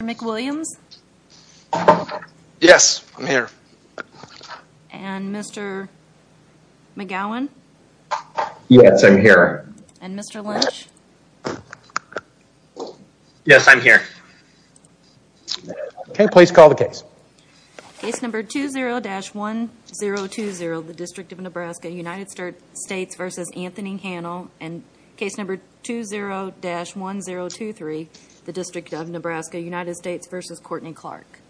McWilliams? Yes, I'm here. And Mr. McGowan? Yes, I'm here. And Mr. Lynch? Yes, I'm here. Okay, please call the case. Case number 20-1020, the District of Nebraska, United States v. Anthony Hanel. And case number 20-1023, the District of Nebraska, United States v. Courtney Clark.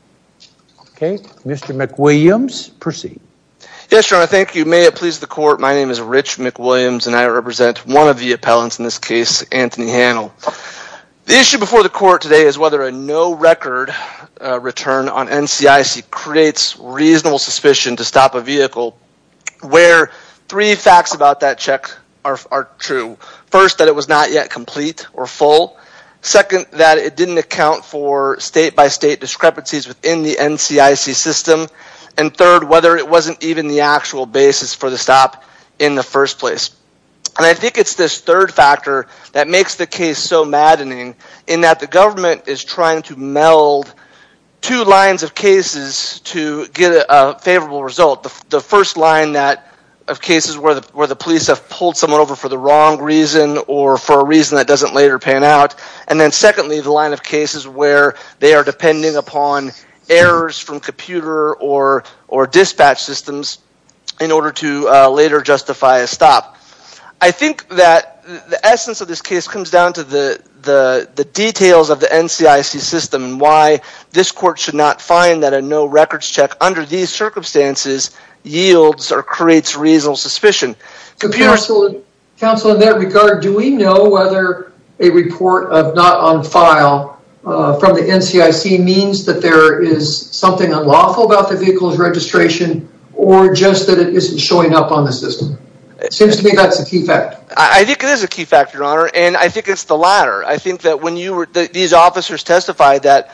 Okay, Mr. McWilliams, proceed. Yes, Your Honor, thank you. May it please the court, my name is Rich McWilliams, and I represent one of the appellants in this case, Anthony Hanel. The issue before the court today is whether a no-record return on NCIC creates reasonable suspicion to stop a vehicle where three facts about that check are true. First, that it was not yet complete or full. Second, that it didn't account for state-by-state discrepancies within the NCIC system. And third, whether it wasn't even the actual basis for the stop in the first place. And I think it's this third factor that makes the case so maddening, in that the government is trying to meld two lines of cases to get a favorable result. The first line of cases where the police have pulled someone over for the wrong reason, or for a reason that doesn't later pan out. And then secondly, the line of cases where they are depending upon errors from computer or dispatch systems in order to later justify a stop. I think that the essence of this case comes down to the details of the NCIC system and why this court should not find that a no-records check under these circumstances yields or creates reasonable suspicion. Counsel, in that regard, do we know whether a report of not on file from the NCIC means that there is something unlawful about the vehicle's registration, or just that it isn't showing up on the system? It seems to me that's a key fact. I think it is a key fact, your honor, and I think it's the latter. I think that when these officers testified that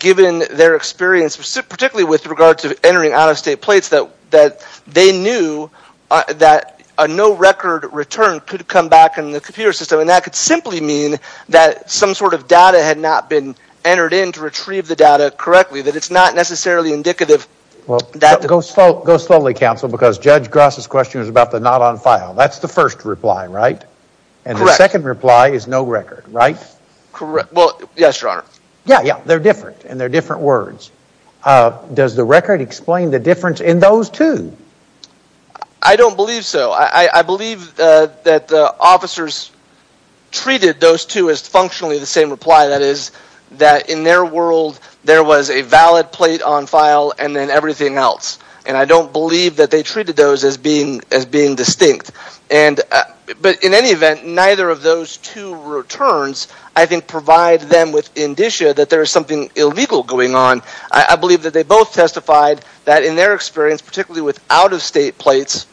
given their experience, particularly with regard to entering out-of-state plates, that they knew that a no-record return could come back in the computer system, and that could simply mean that some sort of data had not been entered in to retrieve the data correctly, that it's not necessarily indicative that... Go slowly, counsel, because Judge Gross' question was about the not on file. That's the first reply, right? Correct. And the second reply is no record, right? Correct. Well, yes, your honor. Yeah, yeah, they're different, and they're different words. Does the record explain the difference in those two? I don't believe so. I believe that the officers treated those two as functionally the same reply. That is, that in their world, there was a valid plate on file, and then everything else. And I don't believe that they treated those as being distinct. But in any event, neither of those two returns, I think, provide them with indicia that there is something illegal going on. I believe that they both testified that in their experience, particularly with out-of-state plates,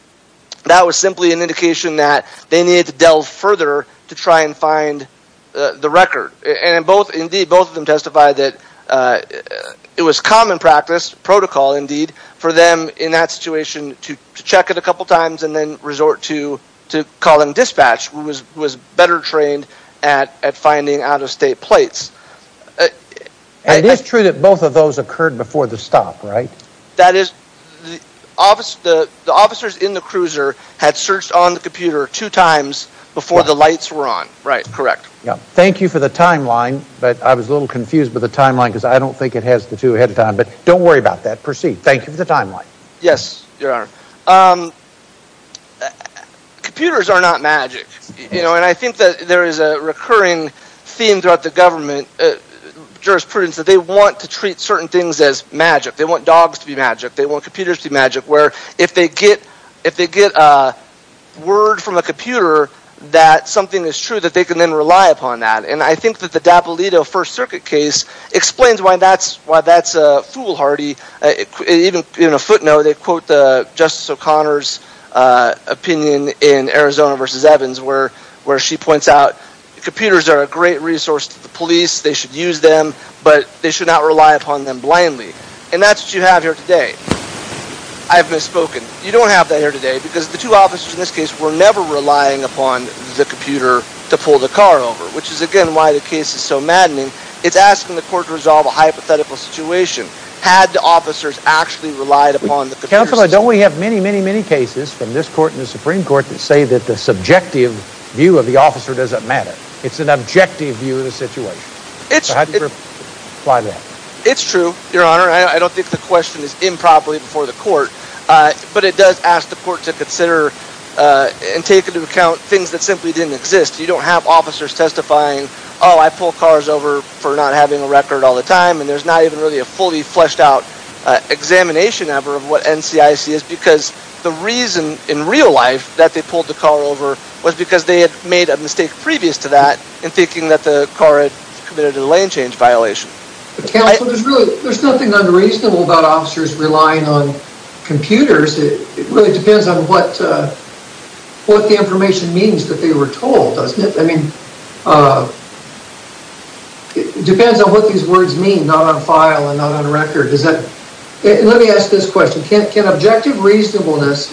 that was simply an indication that they needed to delve further to try and find the record. And indeed, both of them testified that it was common practice, protocol indeed, for them in that situation to check it a couple times and then resort to calling dispatch, who was better trained at finding out-of-state plates. And it's true that both of those occurred before the stop, right? That is, the officers in the cruiser had searched on the computer two times before the lights were on. Right. Correct. Thank you for the timeline, but I was a little confused by the timeline because I don't think it has the two ahead of time. But don't worry about that. Proceed. Thank you for the timeline. Yes, Your Honor. Computers are not magic. And I think that there is a recurring theme throughout the government, jurisprudence, that they want to treat certain things as magic. They want dogs to be magic. They want computers to be magic. Where if they get a word from a computer that something is true, that they can then rely upon that. And I think that the Dappolito First Circuit case explains why that's foolhardy. Even a footnote, they quote Justice O'Connor's opinion in Arizona v. Evans, where she points out computers are a great resource to the police. They should use them, but they should not rely upon them blindly. And that's what you have here today. I have misspoken. You don't have that here today because the two officers in this case were never relying upon the computer to pull the car over, which is again why the case is so maddening. It's asking the court to resolve a hypothetical situation. Had the officers actually relied upon the computers... Counselor, don't we have many, many, many cases from this court and the Supreme Court that say that the subjective view of the officer doesn't matter. It's an objective view of the situation. It's... So how do you reply to that? It's true, Your Honor. I don't think the question is improperly before the court. But it does ask the court to consider and take into account things that simply didn't exist. You don't have officers testifying, oh, I pull cars over for not having a record all the time, and there's not even really a fully fleshed out examination ever of what NCIC is because the reason in real life that they pulled the car over was because they had made a mistake previous to that in thinking that the car had committed a lane change violation. Counselor, there's really... There's nothing unreasonable about officers relying on computers. It really depends on what the information means that they were told, doesn't it? I mean... It depends on what these words mean, not on file and not on record. Let me ask this question. Can objective reasonableness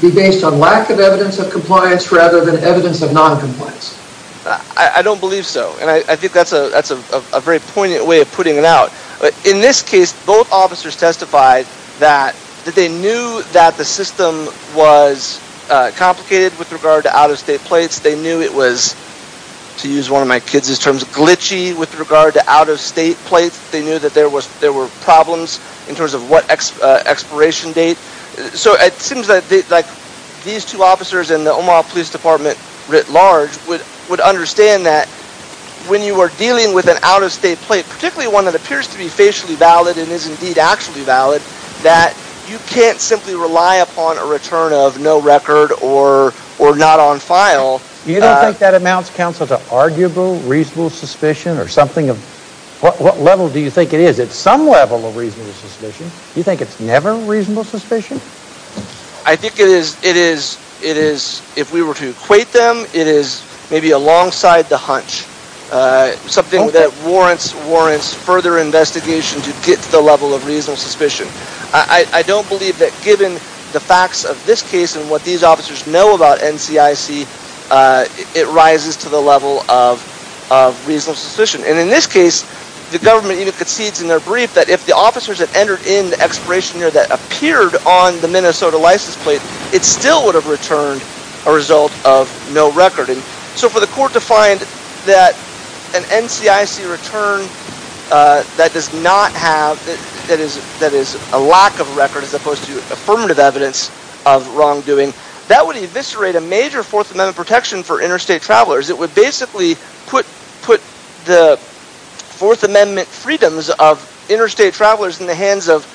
be based on lack of evidence of compliance rather than evidence of noncompliance? I don't believe so. And I think that's a very poignant way of putting it out. In this case, both officers testified that they knew that the system was complicated with regard to out-of-state plates. They knew it was, to use one of my kids' terms, glitchy with regard to out-of-state plates. They knew that there were problems in terms of what expiration date. So it seems like these two officers and the Omaha Police Department writ large would understand that when you are dealing with an out-of-state plate, particularly one that appears to be facially valid and is indeed actually valid, that you can't simply rely upon a return of no record or not on file. You don't think that amounts, counsel, to arguable reasonable suspicion or something of... What level do you think it is? It's some level of reasonable suspicion. You think it's never reasonable suspicion? I think it is... If we were to equate them, it is maybe alongside the hunch. Something that warrants further investigation to get to the level of reasonable suspicion. I don't believe that given the facts of this case and what these officers know about NCIC, it rises to the level of reasonable suspicion. And in this case, the government even concedes in their brief that if the officers had entered in the expiration year that appeared on the Minnesota license plate, it still would have returned a result of no record. So for the court to find that an NCIC return that is a lack of record as opposed to affirmative evidence of wrongdoing, that would eviscerate a major Fourth Amendment protection for interstate travelers. It would basically put the Fourth Amendment freedoms of interstate travelers in the hands of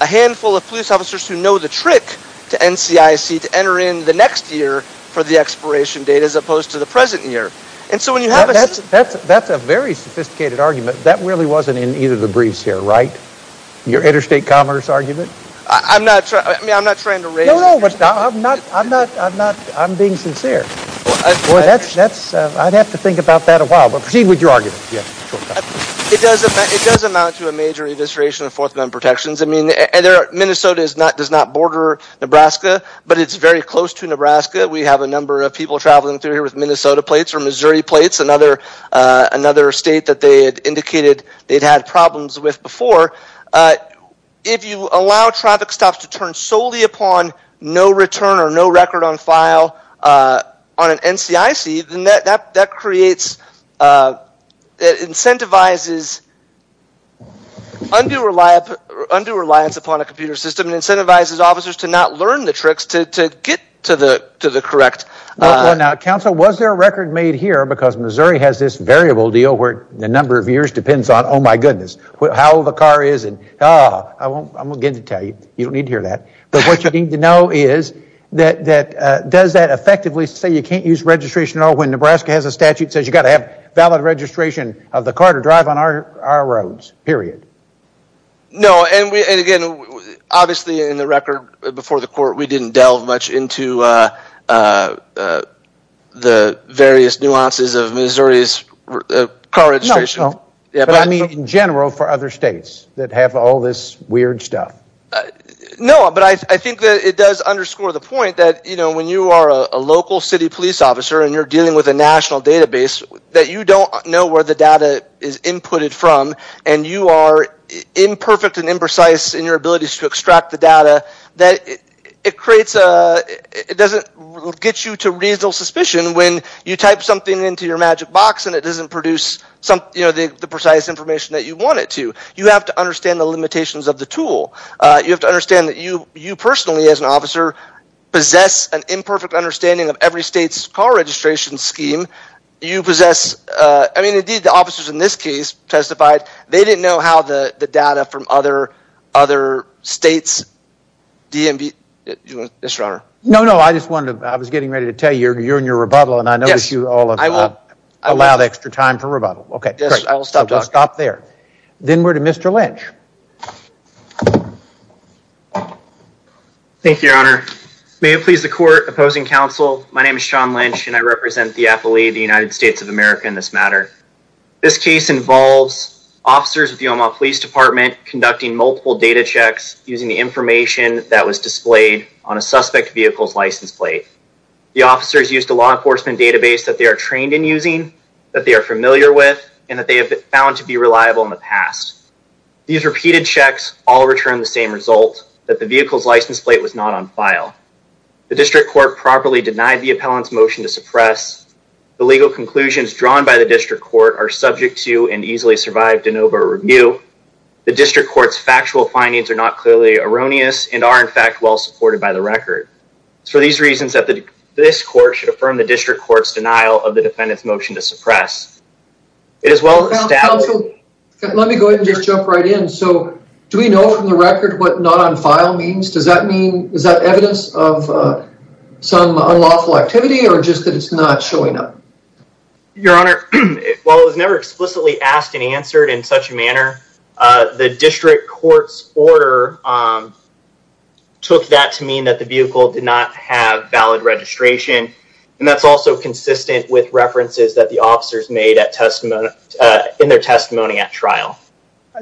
a handful of police officers who know the trick to NCIC to enter in the next year for the expiration date as opposed to the present year. That's a very sophisticated argument. That really wasn't in either of the briefs here, right? Your interstate commerce argument? I'm not trying to raise... No, no, I'm being sincere. I'd have to think about that a while, but proceed with your argument. It does amount to a major evisceration of Fourth Amendment protections. Minnesota does not border Nebraska, but it's very close to Nebraska. We have a number of people traveling through here with Minnesota plates or Missouri plates, another state that they had indicated they'd had problems with before. If you allow traffic stops to turn solely upon no return or no record on file on an NCIC, then that creates, it incentivizes undue reliance upon a computer system and incentivizes officers to not learn the tricks to get to the correct... Well, now, counsel, was there a record made here, because Missouri has this variable deal where the number of years depends on, oh my goodness, how old the car is, and I won't get into detail. You don't need to hear that. But what you need to know is, does that effectively say you can't use registration at all when Nebraska has a statute that says you've got to have valid registration of the car to drive on our roads, period? No, and again, obviously in the record before the court, we didn't delve much into the various nuances of Missouri's car registration. No, but I mean in general for other states that have all this weird stuff. No, but I think that it does underscore the point that when you are a local city police officer and you're dealing with a national database, that you don't know where the data is inputted from and you are imperfect and imprecise in your ability to extract the data, it doesn't get you to reasonable suspicion when you type something into your magic box and it doesn't produce the precise information that you want it to. You have to understand the limitations of the tool. You have to understand that you personally, as an officer, possess an imperfect understanding of every state's car registration scheme. You possess, I mean indeed the officers in this case testified, they didn't know how the data from other states DMV, yes your honor. No, no, I just wanted to, I was getting ready to tell you, you're in your rebuttal and I notice you all have allowed extra time for rebuttal. Yes, I will stop talking. I'll stop there. Then we're to Mr. Lynch. Thank you, your honor. May it please the court, opposing counsel, my name is Sean Lynch and I represent the affilee of the United States of America in this matter. This case involves officers of the Omaha Police Department conducting multiple data checks using the information that was displayed on a suspect vehicle's license plate. The officers used a law enforcement database that they are trained in using, that they are familiar with, and that they have been found to be reliable in the past. These repeated checks all returned the same result, that the vehicle's license plate was not on file. The district court properly denied the appellant's motion to suppress. The legal conclusions drawn by the district court are subject to and easily survived an over review. The district court's factual findings are not clearly erroneous and are in fact well supported by the record. It's for these reasons that this court should affirm the district court's denial of the defendant's motion to suppress. Counsel, let me go ahead and just jump right in. So, do we know from the record what not on file means? Does that mean, is that evidence of some unlawful activity or just that it's not showing up? Your honor, while it was never explicitly asked and answered in such a manner, the district court's order took that to mean that the vehicle did not have valid registration and that's also consistent with references that the officers made in their testimony at trial.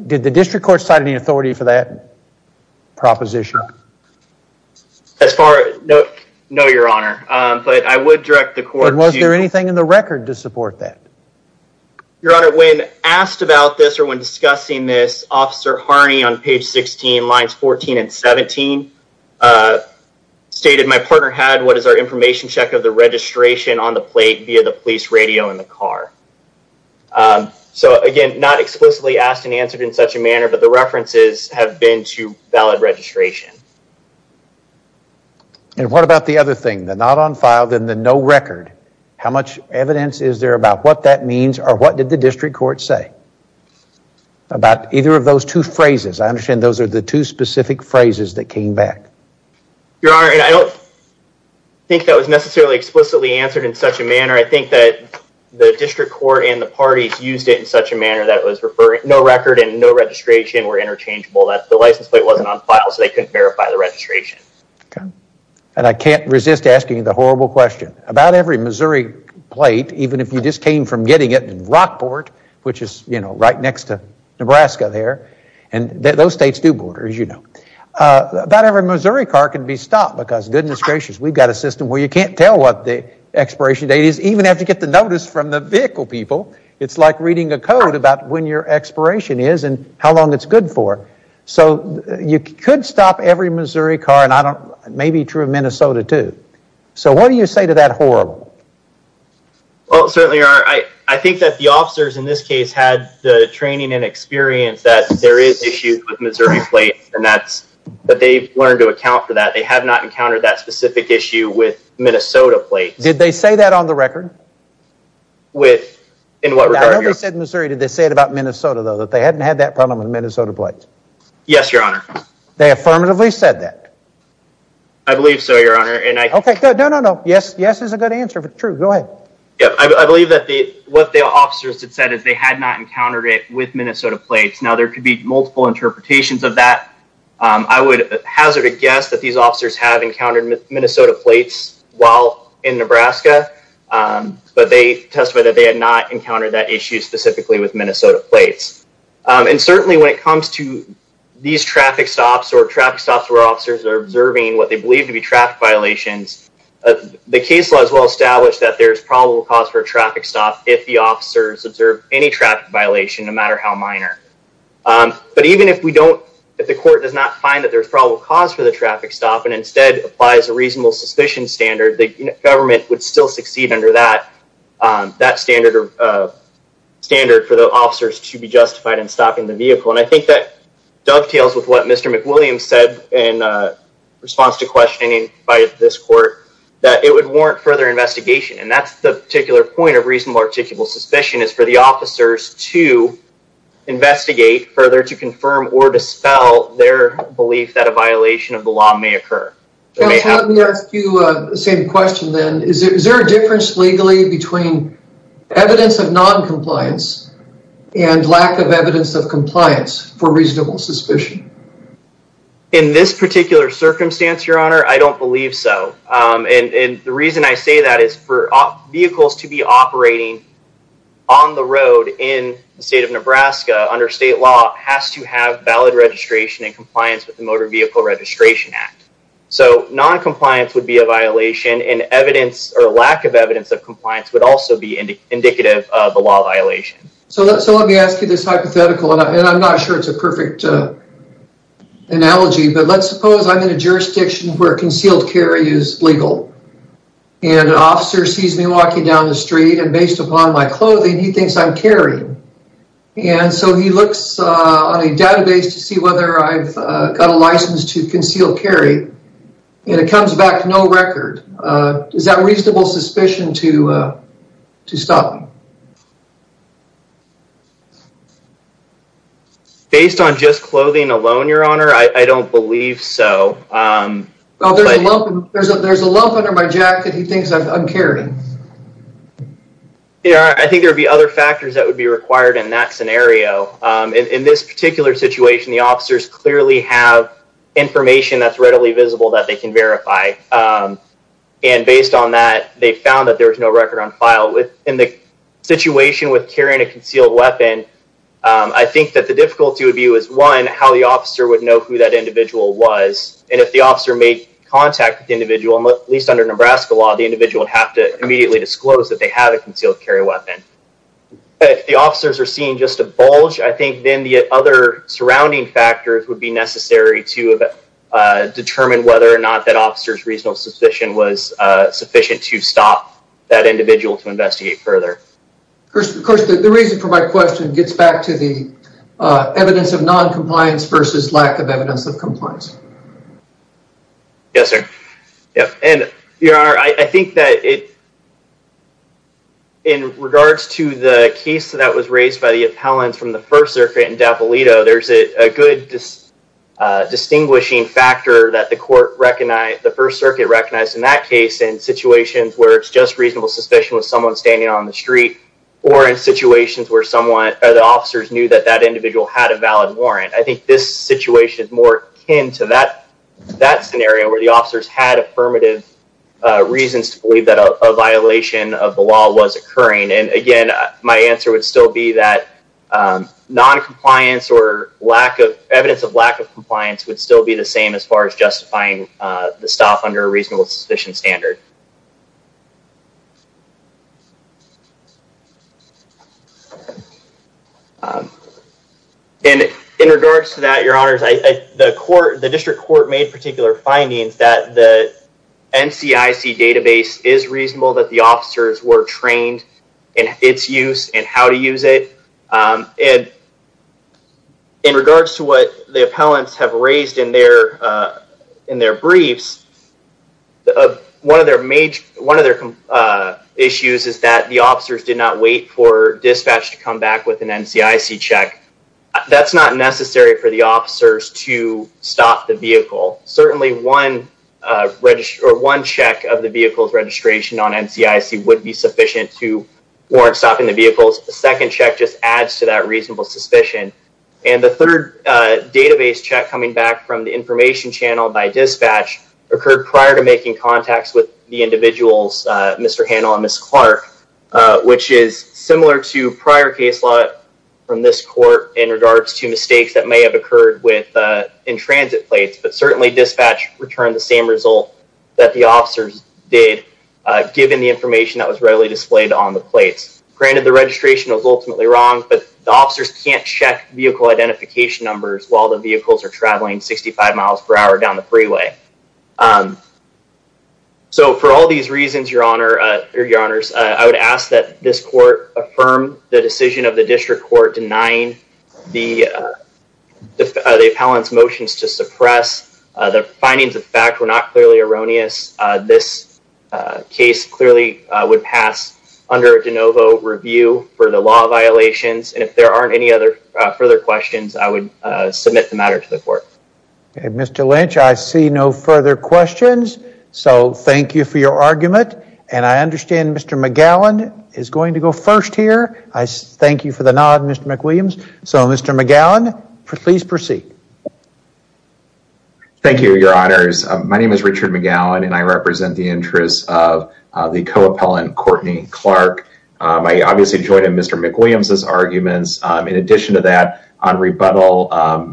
Did the district court cite any authority for that proposition? No, your honor, but I would direct the court to... Was there anything in the record to support that? Your honor, when asked about this or when discussing this, Officer Harney on page 16, lines 14 and 17 stated, my partner had what is our information check of the registration on the plate via the police radio in the car. So again, not explicitly asked and answered in such a manner, but the references have been to valid registration. And what about the other thing, the not on file, then the no record? How much evidence is there about what that means or what did the district court say? About either of those two phrases, I understand those are the two specific phrases that came back. Your honor, I don't think that was necessarily explicitly answered in such a manner. I think that the district court and the parties used it in such a manner that was no record and no registration were interchangeable, that the license plate wasn't on file so they couldn't verify the registration. And I can't resist asking the horrible question. About every Missouri plate, even if you just came from getting it in Rockport, which is, you know, right next to Nebraska there, and those states do borders, you know. About every Missouri car can be stopped because goodness gracious, we've got a system where you can't tell what the expiration date is, even if you get the notice from the vehicle people. It's like reading a code about when your expiration is and how long it's good for. So you could stop every Missouri car, and maybe true of Minnesota too. So what do you say to that horrible? Well, certainly your honor, I think that the officers in this case had the training and experience that there is issues with Missouri plates and that they've learned to account for that. They have not encountered that specific issue with Minnesota plates. Did they say that on the record? I know they said Missouri, did they say it about Minnesota though, that they hadn't had that problem with Minnesota plates? Yes, your honor. They affirmatively said that? I believe so, your honor. No, no, no, yes is a good answer, true, go ahead. Yeah, I believe that what the officers had said is they had not encountered it with Minnesota plates. Now there could be multiple interpretations of that. I would hazard a guess that these officers have encountered Minnesota plates while in Nebraska, but they testified that they had not encountered that issue specifically with Minnesota plates. And certainly when it comes to these traffic stops or traffic stops where officers are observing what they believe to be traffic violations, the case law is well established that there's probable cause for a traffic stop if the officers observe any traffic violation, no matter how minor. But even if we don't, if the court does not find that there's probable cause for the traffic stop and instead applies a reasonable suspicion standard, the government would still succeed under that standard for the officers to be justified in stopping the vehicle. And I think that dovetails with what Mr. McWilliams said in response to questioning by this court, that it would warrant further investigation. And that's the particular point of reasonable articulable suspicion, is for the officers to investigate further to confirm or dispel their belief that a violation of the law may occur. Let me ask you the same question then. Is there a difference legally between evidence of noncompliance and lack of evidence of compliance for reasonable suspicion? In this particular circumstance, Your Honor, I don't believe so. And the reason I say that is for vehicles to be operating on the road in the state of Nebraska under state law has to have valid registration and compliance with the Motor Vehicle Registration Act. So noncompliance would be a violation, and lack of evidence of compliance would also be indicative of a law violation. So let me ask you this hypothetical, and I'm not sure it's a perfect analogy, but let's suppose I'm in a jurisdiction where concealed carry is legal. And an officer sees me walking down the street, and based upon my clothing, he thinks I'm carrying. And so he looks on a database to see whether I've got a license to concealed carry, and it comes back no record. Is that reasonable suspicion to stop me? Based on just clothing alone, Your Honor, I don't believe so. Well, there's a lump under my jacket he thinks I'm carrying. Your Honor, I think there would be other factors that would be required in that scenario. In this particular situation, the officers clearly have information that's readily visible that they can verify. And based on that, they found that there was no record on file. In the situation with carrying a concealed weapon, I think that the difficulty would be, one, how the officer would know who that individual was. And if the officer made contact with the individual, at least under Nebraska law, the individual would have to immediately disclose that they have a concealed carry weapon. If the officers are seeing just a bulge, I think then the other surrounding factors would be necessary to determine whether or not that officer's reasonable suspicion was sufficient to stop that individual to investigate further. Of course, the reason for my question gets back to the evidence of noncompliance versus lack of evidence of compliance. Yes, sir. Your Honor, I think that in regards to the case that was raised by the appellants from the First Circuit in Dappolito, there's a good distinguishing factor that the First Circuit recognized in that case in situations where it's just reasonable suspicion with someone standing on the street or in situations where the officers knew that that individual had a valid warrant. I think this situation is more akin to that scenario where the officers had affirmative reasons to believe that a violation of the law was occurring. And again, my answer would still be that noncompliance or evidence of lack of compliance would still be the same as far as justifying the stop under a reasonable suspicion standard. And in regards to that, Your Honors, the District Court made particular findings that the NCIC database is reasonable, that the officers were trained in its use and how to use it. And in regards to what the appellants have raised in their briefs, one of their issues is that the officers did not wait for dispatch to come back with an NCIC check. That's not necessary for the officers to stop the vehicle. Certainly, one check of the vehicle's registration on NCIC would be sufficient to warrant stopping the vehicle. A second check just adds to that reasonable suspicion. And the third database check coming back from the information channel by dispatch occurred prior to making contacts with the individuals, Mr. Handel and Ms. Clark, which is similar to prior case law from this court in regards to mistakes that may have occurred in transit plates. But certainly, dispatch returned the same result that the officers did, given the information that was readily displayed on the plates. Granted, the registration was ultimately wrong, but the officers can't check vehicle identification numbers while the vehicles are traveling 65 miles per hour down the freeway. So for all these reasons, Your Honors, I would ask that this court affirm the decision of the District Court denying the appellant's motions to suppress. The findings of fact were not clearly erroneous. This case clearly would pass under a de novo review for the law violations. And if there aren't any other further questions, I would submit the matter to the court. Mr. Lynch, I see no further questions. So thank you for your argument. And I understand Mr. McGowan is going to go first here. I thank you for the nod, Mr. McWilliams. So, Mr. McGowan, please proceed. Thank you, Your Honors. My name is Richard McGowan, and I represent the interests of the co-appellant, Courtney Clark. I obviously joined in Mr. McWilliams' arguments. In addition to that, on rebuttal,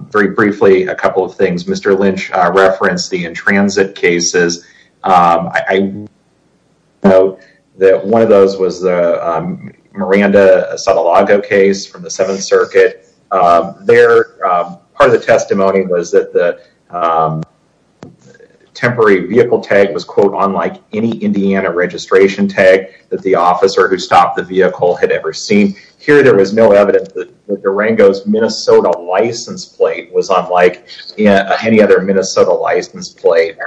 very briefly, a couple of things. Mr. Lynch referenced the in-transit cases. I know that one of those was the Miranda-Sotolago case from the Seventh Circuit. Part of the testimony was that the temporary vehicle tag was, quote, unlike any Indiana registration tag that the officer who stopped the vehicle had ever seen. Here, there was no evidence that Durango's Minnesota license plate was unlike any other Minnesota license plate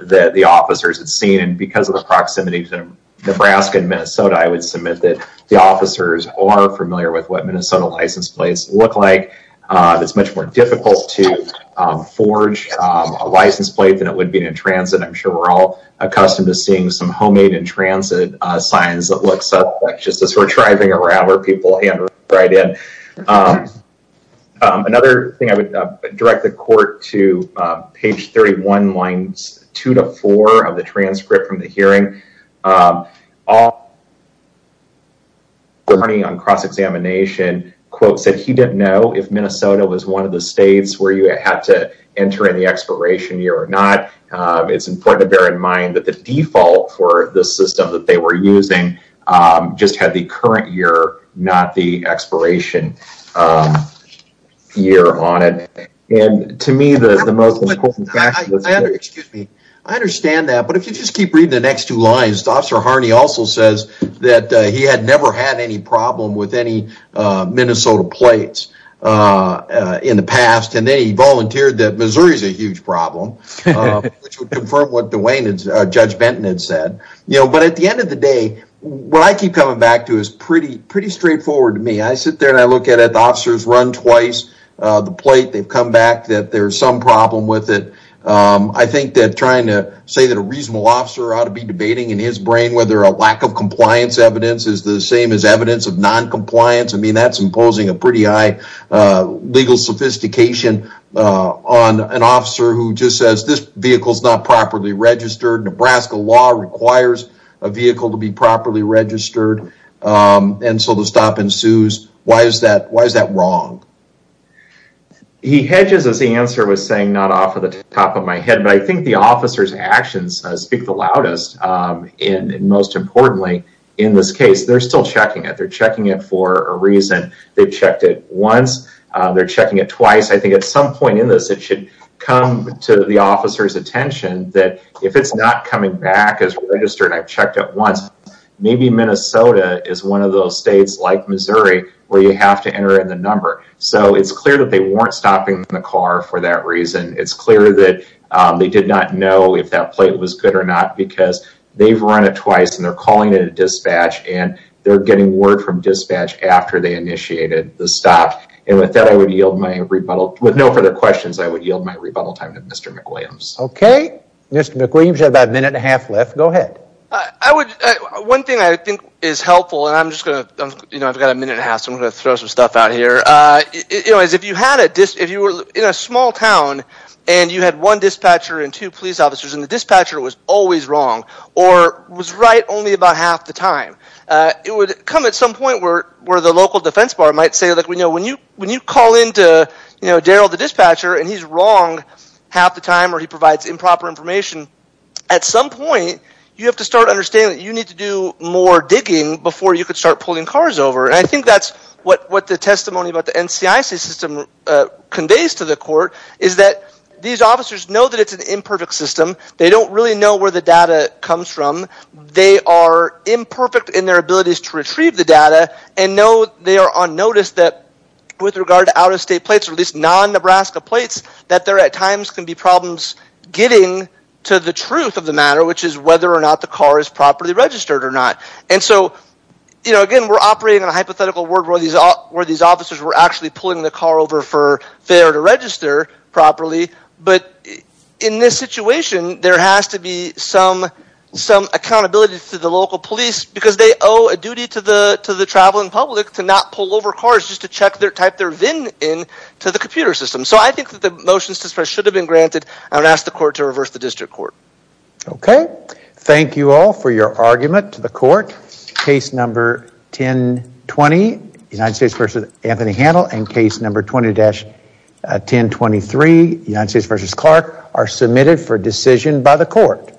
that the officers had seen. And because of the proximity to Nebraska and Minnesota, I would submit that the officers are familiar with what Minnesota license plates look like. It's much more difficult to forge a license plate than it would be in transit. I'm sure we're all accustomed to seeing some homemade in-transit signs that look suspect, just as we're driving around where people hand it right in. Another thing, I would direct the court to page 31, lines 2 to 4 of the transcript from the hearing. Our attorney on cross-examination, quote, said he didn't know if Minnesota was one of the states where you had to enter in the expiration year or not. It's important to bear in mind that the default for the system that they were using just had the current year, not the expiration year on it. I understand that, but if you just keep reading the next two lines, Officer Harney also says that he had never had any problem with any Minnesota plates in the past, and then he volunteered that Missouri is a huge problem, which would confirm what Judge Benton had said. But at the end of the day, what I keep coming back to is pretty straightforward to me. I sit there and I look at it. The officers run twice the plate. They've come back that there's some problem with it. I think that trying to say that a reasonable officer ought to be debating in his brain whether a lack of compliance evidence is the same as evidence of noncompliance. I mean, that's imposing a pretty high legal sophistication on an officer who just says this vehicle is not properly registered. Nebraska law requires a vehicle to be properly registered, and so the stop ensues. Why is that wrong? He hedges as the answer was saying not off the top of my head, but I think the officer's actions speak the loudest. And most importantly, in this case, they're still checking it. They're checking it for a reason. They've checked it once. They're checking it twice. I think at some point in this, it should come to the officer's attention that if it's not coming back as registered, I've checked it once, maybe Minnesota is one of those states like Missouri where you have to enter in the number. So it's clear that they weren't stopping the car for that reason. It's clear that they did not know if that plate was good or not because they've run it twice and they're calling it a dispatch, and they're getting word from dispatch after they initiated the stop. And with that, I would yield my rebuttal. With no further questions, I would yield my rebuttal time to Mr. McWilliams. Okay. Mr. McWilliams, you have about a minute and a half left. Go ahead. One thing I think is helpful, and I've got a minute and a half, so I'm going to throw some stuff out here. If you were in a small town and you had one dispatcher and two police officers and the dispatcher was always wrong or was right only about half the time, it would come at some point where the local defense bar might say, when you call in to Darryl the dispatcher and he's wrong half the time or he provides improper information, at some point you have to start understanding that you need to do more digging before you can start pulling cars over. And I think that's what the testimony about the NCIC system conveys to the court, is that these officers know that it's an imperfect system. They don't really know where the data comes from. They are imperfect in their abilities to retrieve the data and know they are on notice that with regard to out-of-state plates, or at least non-Nebraska plates, that there at times can be problems getting to the truth of the matter, which is whether or not the car is properly registered or not. And so, you know, again, we're operating on a hypothetical world where these officers were actually pulling the car over for failure to register properly, but in this situation, there has to be some accountability to the local police, because they owe a duty to the traveling public to not pull over cars just to type their VIN in to the computer system. So I think that the motions to suppress should have been granted. I would ask the court to reverse the district court. Okay. Thank you all for your argument to the court. Case number 1020, United States v. Anthony Handel, and case number 20-1023, United States v. Clark, are submitted for decision by the court.